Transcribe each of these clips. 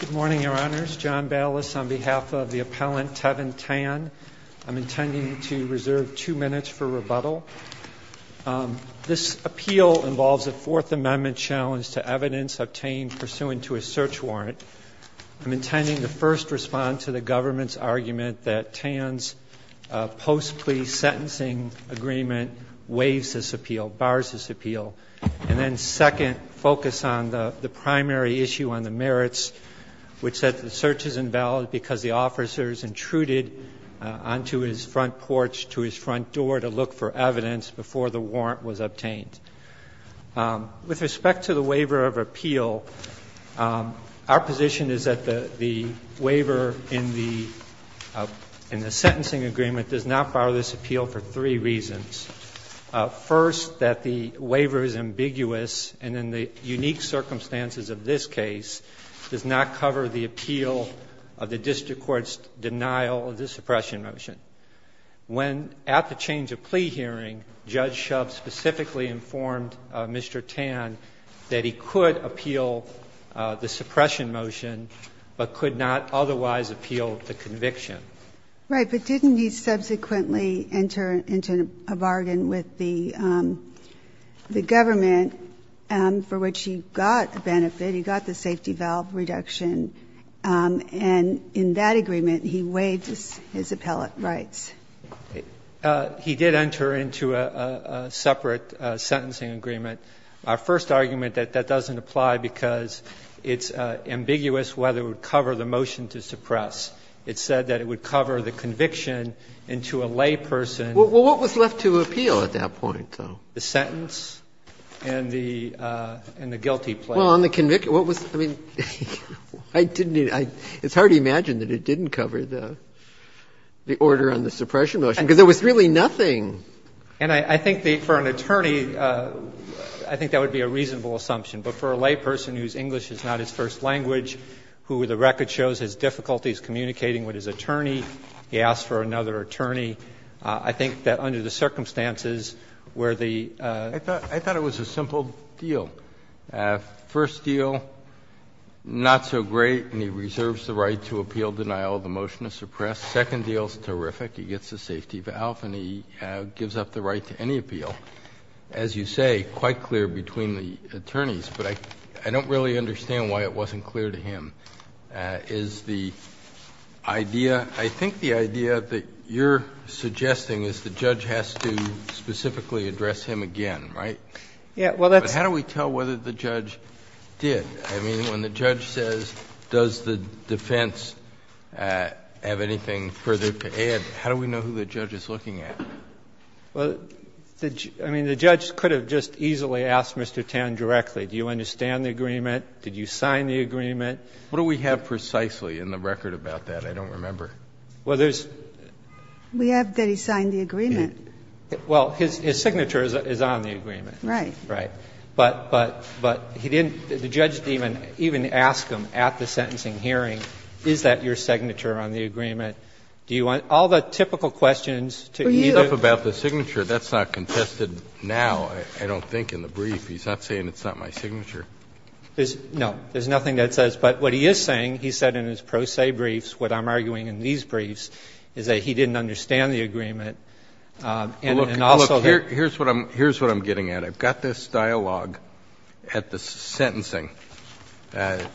Good morning, Your Honors. John Ballas on behalf of the appellant Tevin Tan. I'm intending to reserve two minutes for rebuttal. This appeal involves a Fourth Amendment challenge to evidence obtained pursuant to a search warrant. I'm intending to first respond to the government's argument that Tan's post-plea sentencing agreement waives this appeal, bars this appeal, and then second, focus on the primary issue on the merits, which said the search is invalid because the officer is intruded onto his front porch to his front door to look for evidence before the warrant was obtained. With respect to the waiver of appeal, our position is that the waiver in the sentencing agreement does not bar this appeal for three reasons. First, that the waiver is ambiguous, and in the unique circumstances of this case, does not cover the appeal of the district court's denial of the suppression motion. When, at the change of plea hearing, Judge Shub specifically informed Mr. Tan that he could appeal the suppression motion, but could not otherwise appeal the conviction. Right. But didn't he subsequently enter into a bargain with the government for which he got a benefit, he got the safety valve reduction, and in that agreement he waived his appellate rights? He did enter into a separate sentencing agreement. Our first argument that that doesn't apply because it's ambiguous whether it would cover the motion to suppress. It said that it would cover the conviction into a layperson. Well, what was left to appeal at that point, though? The sentence and the guilty plea. Well, on the conviction, what was the reason? It's hard to imagine that it didn't cover the order on the suppression motion, because there was really nothing. And I think for an attorney, I think that would be a reasonable assumption. But for a layperson whose English is not his first language, who the record shows his difficulty is communicating with his attorney, he asked for another attorney, I think that under the circumstances where the ---- I thought it was a simple deal. First deal, not so great, and he reserves the right to appeal denial of the motion to suppress. Second deal is terrific. He gets the safety valve and he gives up the right to any appeal. As you say, quite clear between the attorneys, but I don't really understand why it wasn't clear to him. Is the idea ---- I think the idea that you're suggesting is the judge has to specifically address him again, right? But how do we tell whether the judge did? I mean, when the judge says, does the defense have anything further to add, how do we know who the judge is looking at? Well, I mean, the judge could have just easily asked Mr. Tan directly, do you understand the agreement? Did you sign the agreement? What do we have precisely in the record about that? I don't remember. Well, there's ---- We have that he signed the agreement. Well, his signature is on the agreement. Right. Right. But he didn't ---- the judge didn't even ask him at the sentencing hearing, is that your signature on the agreement? Do you want ---- all the typical questions to either ---- For you. It's not about the signature. That's not contested now, I don't think, in the brief. He's not saying it's not my signature. There's no ---- there's nothing that says ---- but what he is saying, he said in his pro se briefs, what I'm arguing in these briefs, is that he didn't understand the agreement and also that ---- Well, look, here's what I'm getting at. I've got this dialogue at the sentencing. The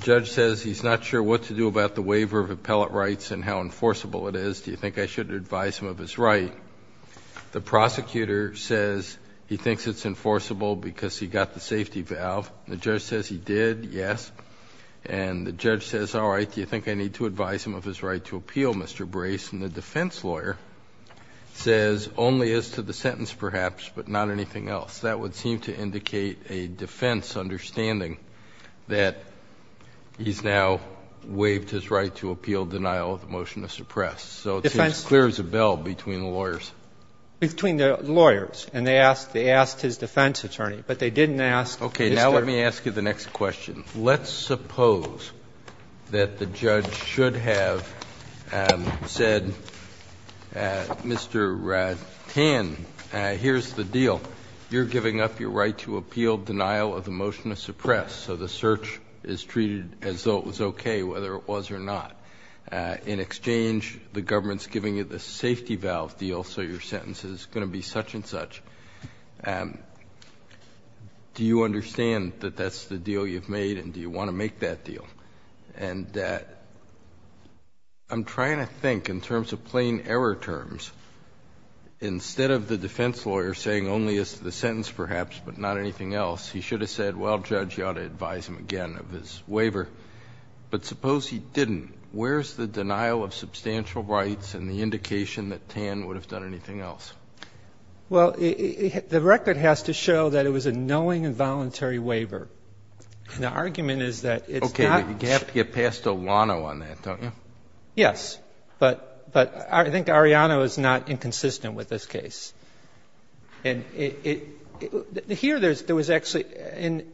judge says he's not sure what to do about the waiver of appellate rights and how enforceable it is. Do you think I should advise him of his right? The prosecutor says he thinks it's enforceable because he got the safety valve. The judge says he did, yes. And the judge says, all right, do you think I need to advise him of his right to appeal, Mr. Brace? And the defense lawyer says only as to the sentence, perhaps, but not anything else. That would seem to indicate a defense understanding that he's now waived his right to appeal denial of the motion of suppress. So it seems clear as a bell between the lawyers. Between the lawyers. And they asked his defense attorney, but they didn't ask Mr.---- Okay. Now let me ask you the next question. Let's suppose that the judge should have said, Mr. Tan, here's the deal. You're giving up your right to appeal denial of the motion of suppress. So the search is treated as though it was okay, whether it was or not. In exchange, the government's giving you the safety valve deal, so your sentence is going to be such and such. Do you understand that that's the deal you've made and do you want to make that deal? And I'm trying to think in terms of plain error terms, instead of the defense lawyer saying only as to the sentence, perhaps, but not anything else, he should have said, well, Judge, you ought to advise him again of his waiver. But suppose he didn't. Where's the denial of substantial rights and the indication that Tan would have done anything else? Well, the record has to show that it was a knowing and voluntary waiver. The argument is that it's not---- Okay. You have to get past O'Lano on that, don't you? Yes. But I think Arianna is not inconsistent with this case. And here there was actually,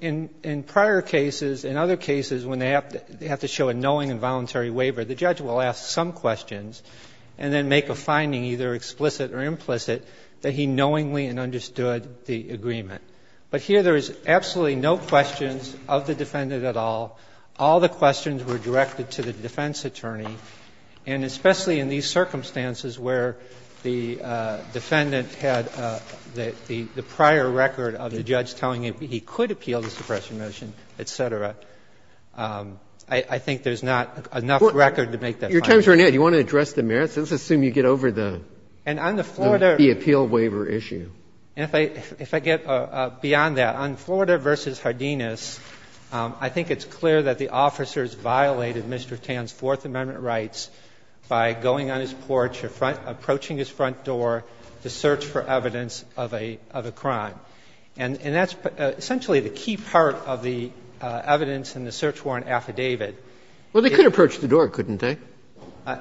in prior cases, in other cases, when they have to show a knowing and voluntary waiver, the judge will ask some questions and then make a finding, either explicit or implicit, that he knowingly and understood the agreement. But here there is absolutely no questions of the defendant at all. All the questions were directed to the defense attorney. And especially in these circumstances where the defendant had the prior record of the judge telling him he could appeal the suppression motion, et cetera, I think there's not enough record to make that finding. Your time is running out. Do you want to address the merits? Let's assume you get over the appeal waiver issue. And on the Florida issue, if I get beyond that, on Florida v. Hardinas, I think it's clear that the officers violated Mr. Tan's Fourth Amendment rights by going on his porch or approaching his front door to search for evidence of a crime. And that's essentially the key part of the evidence in the search warrant affidavit. Well, they could approach the door, couldn't they?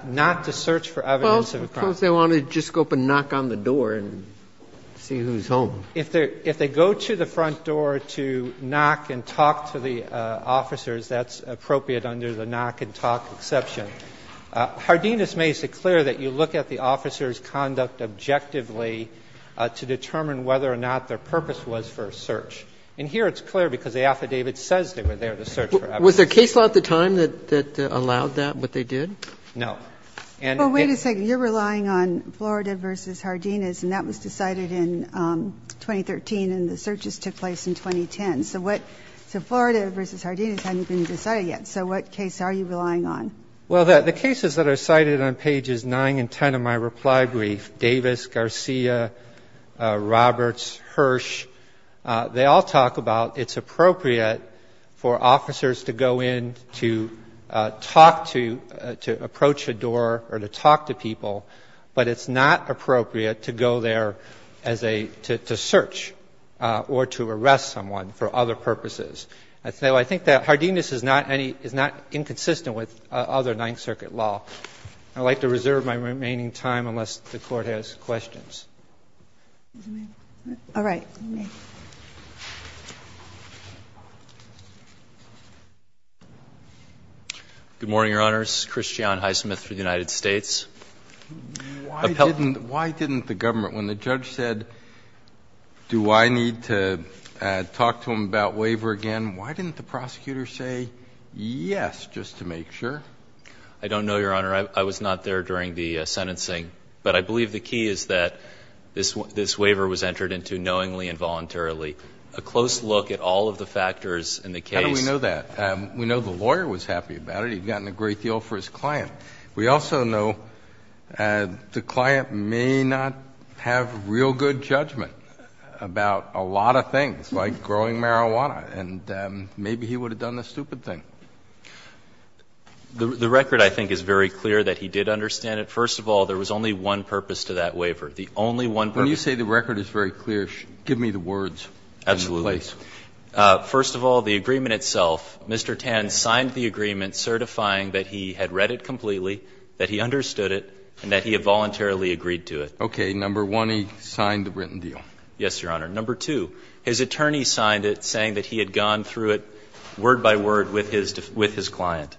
Not to search for evidence of a crime. Well, of course, they want to just go up and knock on the door and see who's home. If they go to the front door to knock and talk to the officers, that's appropriate under the knock and talk exception. Hardinas makes it clear that you look at the officer's conduct objectively to determine whether or not their purpose was for a search. And here it's clear because the affidavit says they were there to search for evidence. Was there case law at the time that allowed that, what they did? No. And it didn't. So you're relying on Florida v. Hardinas, and that was decided in 2013 and the searches took place in 2010. So what – so Florida v. Hardinas hadn't been decided yet. So what case are you relying on? Well, the cases that are cited on pages 9 and 10 of my reply brief, Davis, Garcia, Roberts, Hirsch, they all talk about it's appropriate for officers to go in to talk to – to approach a door or to talk to people, but it's not appropriate to go there as a – to search or to arrest someone for other purposes. So I think that Hardinas is not inconsistent with other Ninth Circuit law. I'd like to reserve my remaining time unless the Court has questions. All right. Good morning, Your Honor. This is Christian Highsmith for the United States. Why didn't – why didn't the government – when the judge said, do I need to talk to him about waiver again, why didn't the prosecutor say yes just to make sure? I don't know, Your Honor. I was not there during the sentencing. But I believe the key is that this waiver was entered into knowingly and voluntarily. A close look at all of the factors in the case. How do we know that? We know the lawyer was happy about it. He'd gotten a great deal for his client. We also know the client may not have real good judgment about a lot of things, like growing marijuana, and maybe he would have done the stupid thing. The record, I think, is very clear that he did understand it. First of all, there was only one purpose to that waiver. The only one purpose. When you say the record is very clear, give me the words. Absolutely. First of all, the agreement itself, Mr. Tan signed the agreement certifying that he had read it completely, that he understood it, and that he had voluntarily agreed to it. Okay. Number one, he signed the written deal. Yes, Your Honor. Number two, his attorney signed it saying that he had gone through it word by word with his client.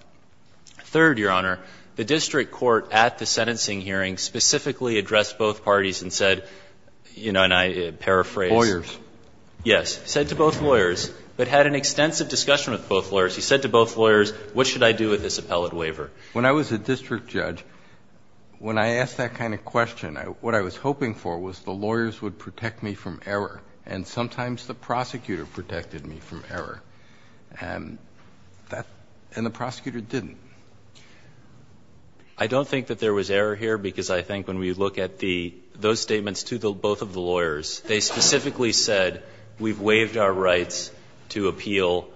Third, Your Honor, the district court at the sentencing hearing specifically addressed both parties and said, you know, and I paraphrase. Lawyers. Yes, said to both lawyers, but had an extensive discussion with both lawyers. He said to both lawyers, what should I do with this appellate waiver? When I was a district judge, when I asked that kind of question, what I was hoping for was the lawyers would protect me from error, and sometimes the prosecutor protected me from error. And the prosecutor didn't. I don't think that there was error here, because I think when we look at the, those statements to both of the lawyers, they specifically said, we've waived our rights to appeal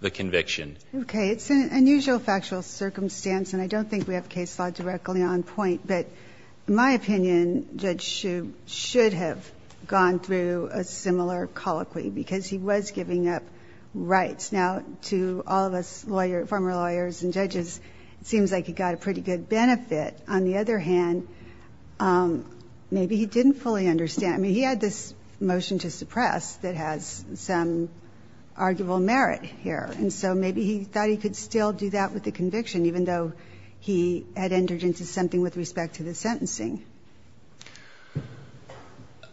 the conviction. Okay. It's an unusual factual circumstance, and I don't think we have case law directly on point, but my opinion, Judge Hsu should have gone through a similar colloquy, because he was giving up rights. Now, to all of us lawyer, former lawyers and judges, it seems like he got a pretty good benefit. On the other hand, maybe he didn't fully understand. I mean, he had this motion to suppress that has some arguable merit here, and so maybe he thought he could still do that with the conviction, even though he had entered into something with respect to the sentencing.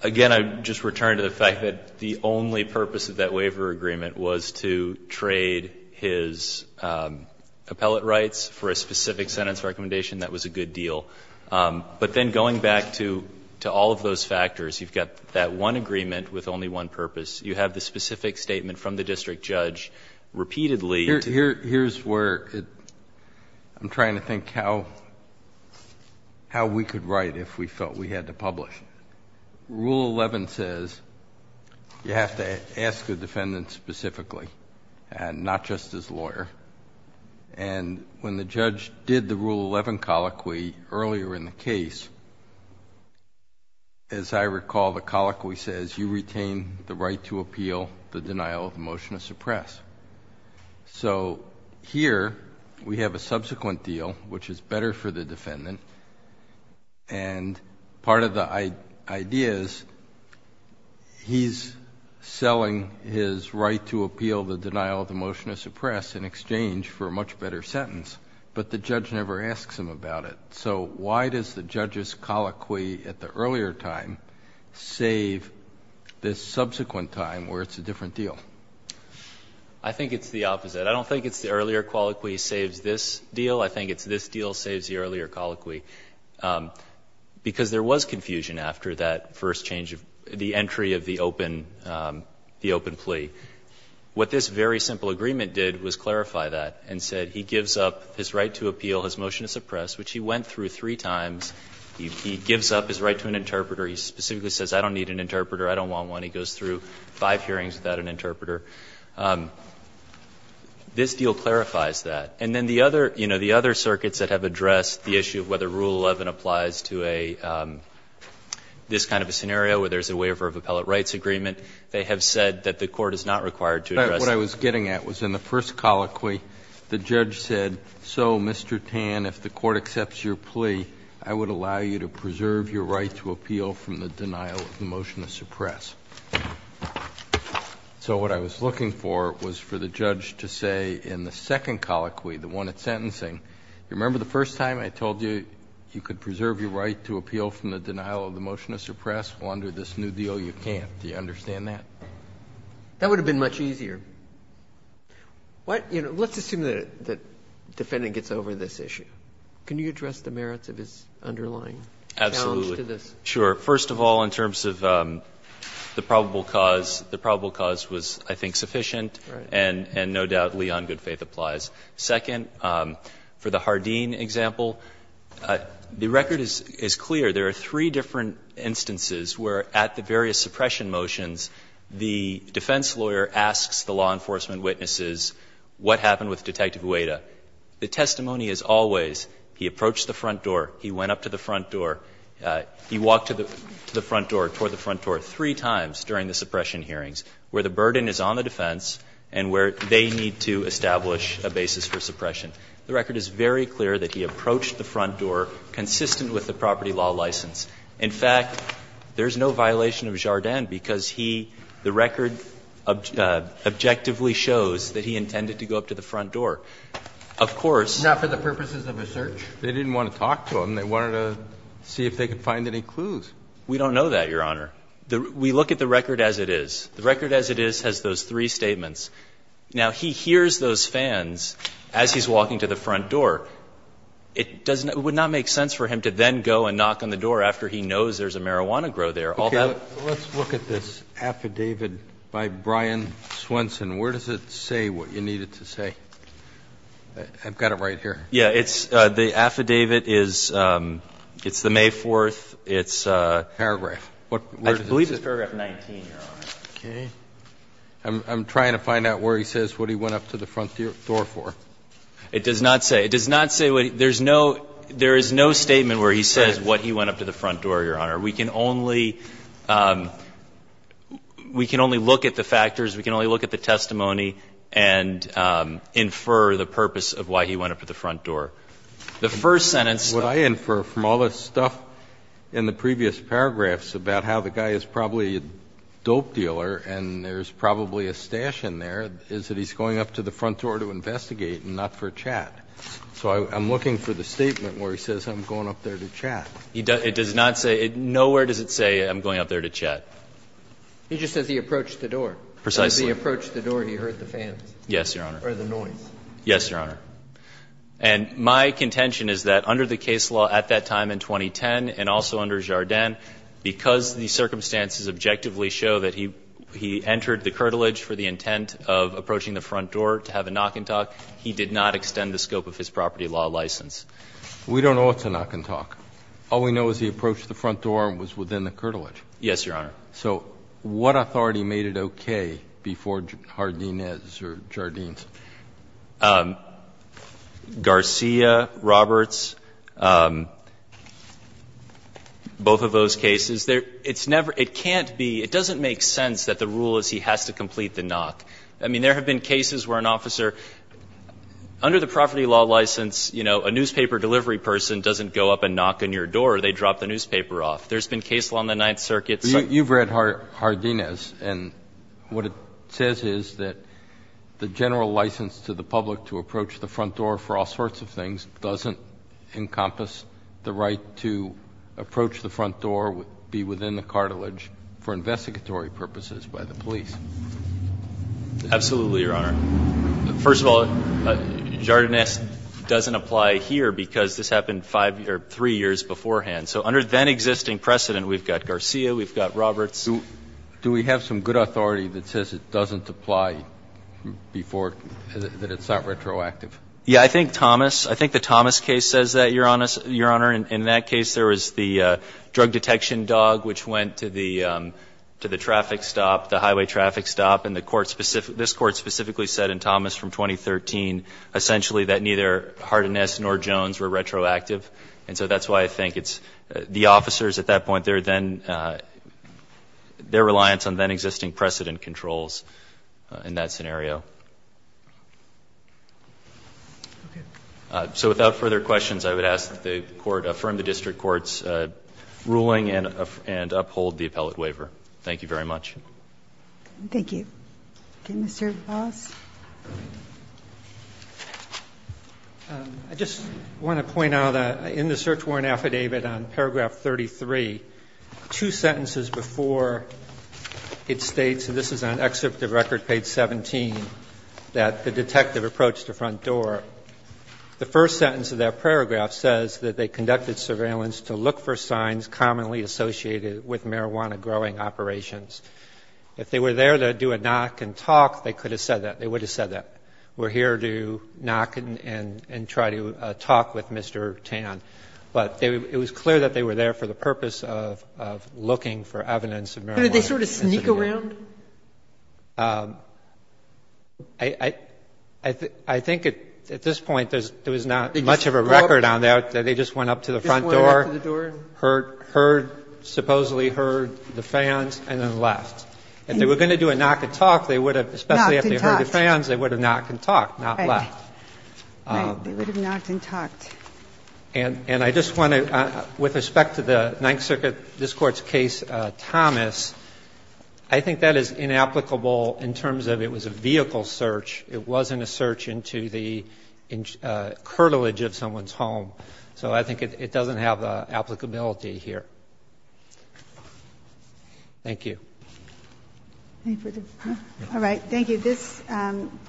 Again, I would just return to the fact that the only purpose of that waiver agreement was to trade his appellate rights for a specific sentence recommendation. That was a good deal. But then going back to all of those factors, you've got that one agreement with only one purpose. You have the specific statement from the district judge repeatedly. Rule 11 says you have to ask the defendant specifically, and not just as lawyer. When the judge did the Rule 11 colloquy earlier in the case, as I recall, the colloquy says, you retain the right to appeal the denial of the motion to suppress. Here, we have a subsequent deal, which is better for the defendant, and part of the idea is he's selling his right to appeal the denial of the motion to suppress in exchange for a much better sentence, but the judge never asks him about it. Why does the judge's colloquy at the earlier time save this subsequent time where it's a different deal? I think it's the opposite. I don't think it's the earlier colloquy saves this deal. I think it's this deal saves the earlier colloquy, because there was confusion after that first change of the entry of the open plea. What this very simple agreement did was clarify that and said he gives up his right to appeal his motion to suppress, which he went through three times. He gives up his right to an interpreter. He specifically says I don't need an interpreter, I don't want one. And he goes through five hearings without an interpreter. This deal clarifies that. And then the other, you know, the other circuits that have addressed the issue of whether Rule 11 applies to a, this kind of a scenario where there's a waiver of appellate rights agreement, they have said that the court is not required to address that. Roberts, what I was getting at was in the first colloquy, the judge said, so, Mr. Tan, if the court accepts your plea, I would allow you to preserve your right to appeal from the denial of the motion to suppress. So what I was looking for was for the judge to say in the second colloquy, the one at sentencing, you remember the first time I told you you could preserve your right to appeal from the denial of the motion to suppress? Well, under this new deal, you can't. Do you understand that? That would have been much easier. What, you know, let's assume that the defendant gets over this issue. Can you address the merits of his underlying challenge to this? Absolutely. Sure. First of all, in terms of the probable cause, the probable cause was, I think, sufficient and no doubtly on good faith applies. Second, for the Hardeen example, the record is clear. There are three different instances where at the various suppression motions, the defense lawyer asks the law enforcement witnesses what happened with Detective Gueda. The testimony is always he approached the front door, he went up to the front door, he walked to the front door, toward the front door three times during the suppression hearings, where the burden is on the defense and where they need to establish a basis for suppression. The record is very clear that he approached the front door consistent with the property law license. In fact, there is no violation of Jardin because he, the record objectively shows that he intended to go up to the front door. Of course. Not for the purposes of a search? They didn't want to talk to him. They wanted to see if they could find any clues. We don't know that, Your Honor. We look at the record as it is. The record as it is has those three statements. Now, he hears those fans as he's walking to the front door. It would not make sense for him to then go and knock on the door after he knows there's a marijuana grow there. Okay. Let's look at this affidavit by Brian Swenson. Where does it say what you need it to say? I've got it right here. Yeah, it's the affidavit is, it's the May 4th. It's a paragraph. I believe it's paragraph 19, Your Honor. Okay. I'm trying to find out where he says what he went up to the front door for. It does not say. It does not say what he – there's no statement where he says what he went up to the front door, Your Honor. We can only look at the factors. The first sentence. What I infer from all this stuff in the previous paragraphs about how the guy is probably a dope dealer and there's probably a stash in there is that he's going up to the front door to investigate and not for a chat. So I'm looking for the statement where he says I'm going up there to chat. It does not say – nowhere does it say I'm going up there to chat. He just says he approached the door. Precisely. He approached the door and he heard the fans. Yes, Your Honor. Or the noise. Yes, Your Honor. And my contention is that under the case law at that time in 2010 and also under Jardin, because the circumstances objectively show that he entered the curtilage for the intent of approaching the front door to have a knock and talk, he did not extend the scope of his property law license. We don't know it's a knock and talk. All we know is he approached the front door and was within the curtilage. Yes, Your Honor. So what authority made it okay before Jardinez or Jardines? Garcia, Roberts, both of those cases. It's never – it can't be – it doesn't make sense that the rule is he has to complete the knock. I mean, there have been cases where an officer, under the property law license, you know, a newspaper delivery person doesn't go up and knock on your door. They drop the newspaper off. There's been cases on the Ninth Circuit. You've read Jardinez, and what it says is that the general license to the public to approach the front door for all sorts of things doesn't encompass the right to approach the front door, be within the cartilage, for investigatory purposes by the police. Absolutely, Your Honor. First of all, Jardinez doesn't apply here because this happened 5 or 3 years beforehand. So under that existing precedent, we've got Garcia, we've got Roberts. Do we have some good authority that says it doesn't apply before, that it's not retroactive? Yeah. I think Thomas, I think the Thomas case says that, Your Honor. In that case, there was the drug detection dog which went to the traffic stop, the highway traffic stop, and the court specific – this court specifically said in Thomas from 2013 essentially that neither Jardinez nor Jones were retroactive, and so that's why I think it's the officers at that point, their then – their reliance on then existing precedent controls in that scenario. So without further questions, I would ask that the Court affirm the district court's ruling and uphold the appellate waiver. Thank you very much. Thank you. Okay. Mr. Voss? I just want to point out in the search warrant affidavit on paragraph 33, two sentences before it states, and this is on excerpt of record page 17, that the detective approached the front door. The first sentence of that paragraph says that they conducted surveillance to look for signs commonly associated with marijuana growing operations. If they were there to do a knock and talk, they could have said that. They would have said that. We're here to knock and try to talk with Mr. Tan. But it was clear that they were there for the purpose of looking for evidence of marijuana. Did they sort of sneak around? I think at this point, there was not much of a record on that. They just went up to the front door, heard, supposedly heard the fans, and then left If they were going to do a knock and talk, they would have, especially if they heard the fans, they would have knocked and talked, not left. Right. They would have knocked and talked. And I just want to, with respect to the Ninth Circuit, this Court's case, Thomas, I think that is inapplicable in terms of it was a vehicle search. It wasn't a search into the curtilage of someone's home. So I think it doesn't have applicability here. Thank you. Any further? All right. Thank you. This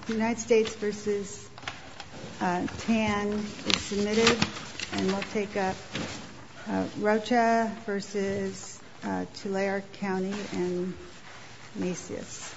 United States v. Tan is submitted. And we'll take up Rocha v. Tulare County and Macy's.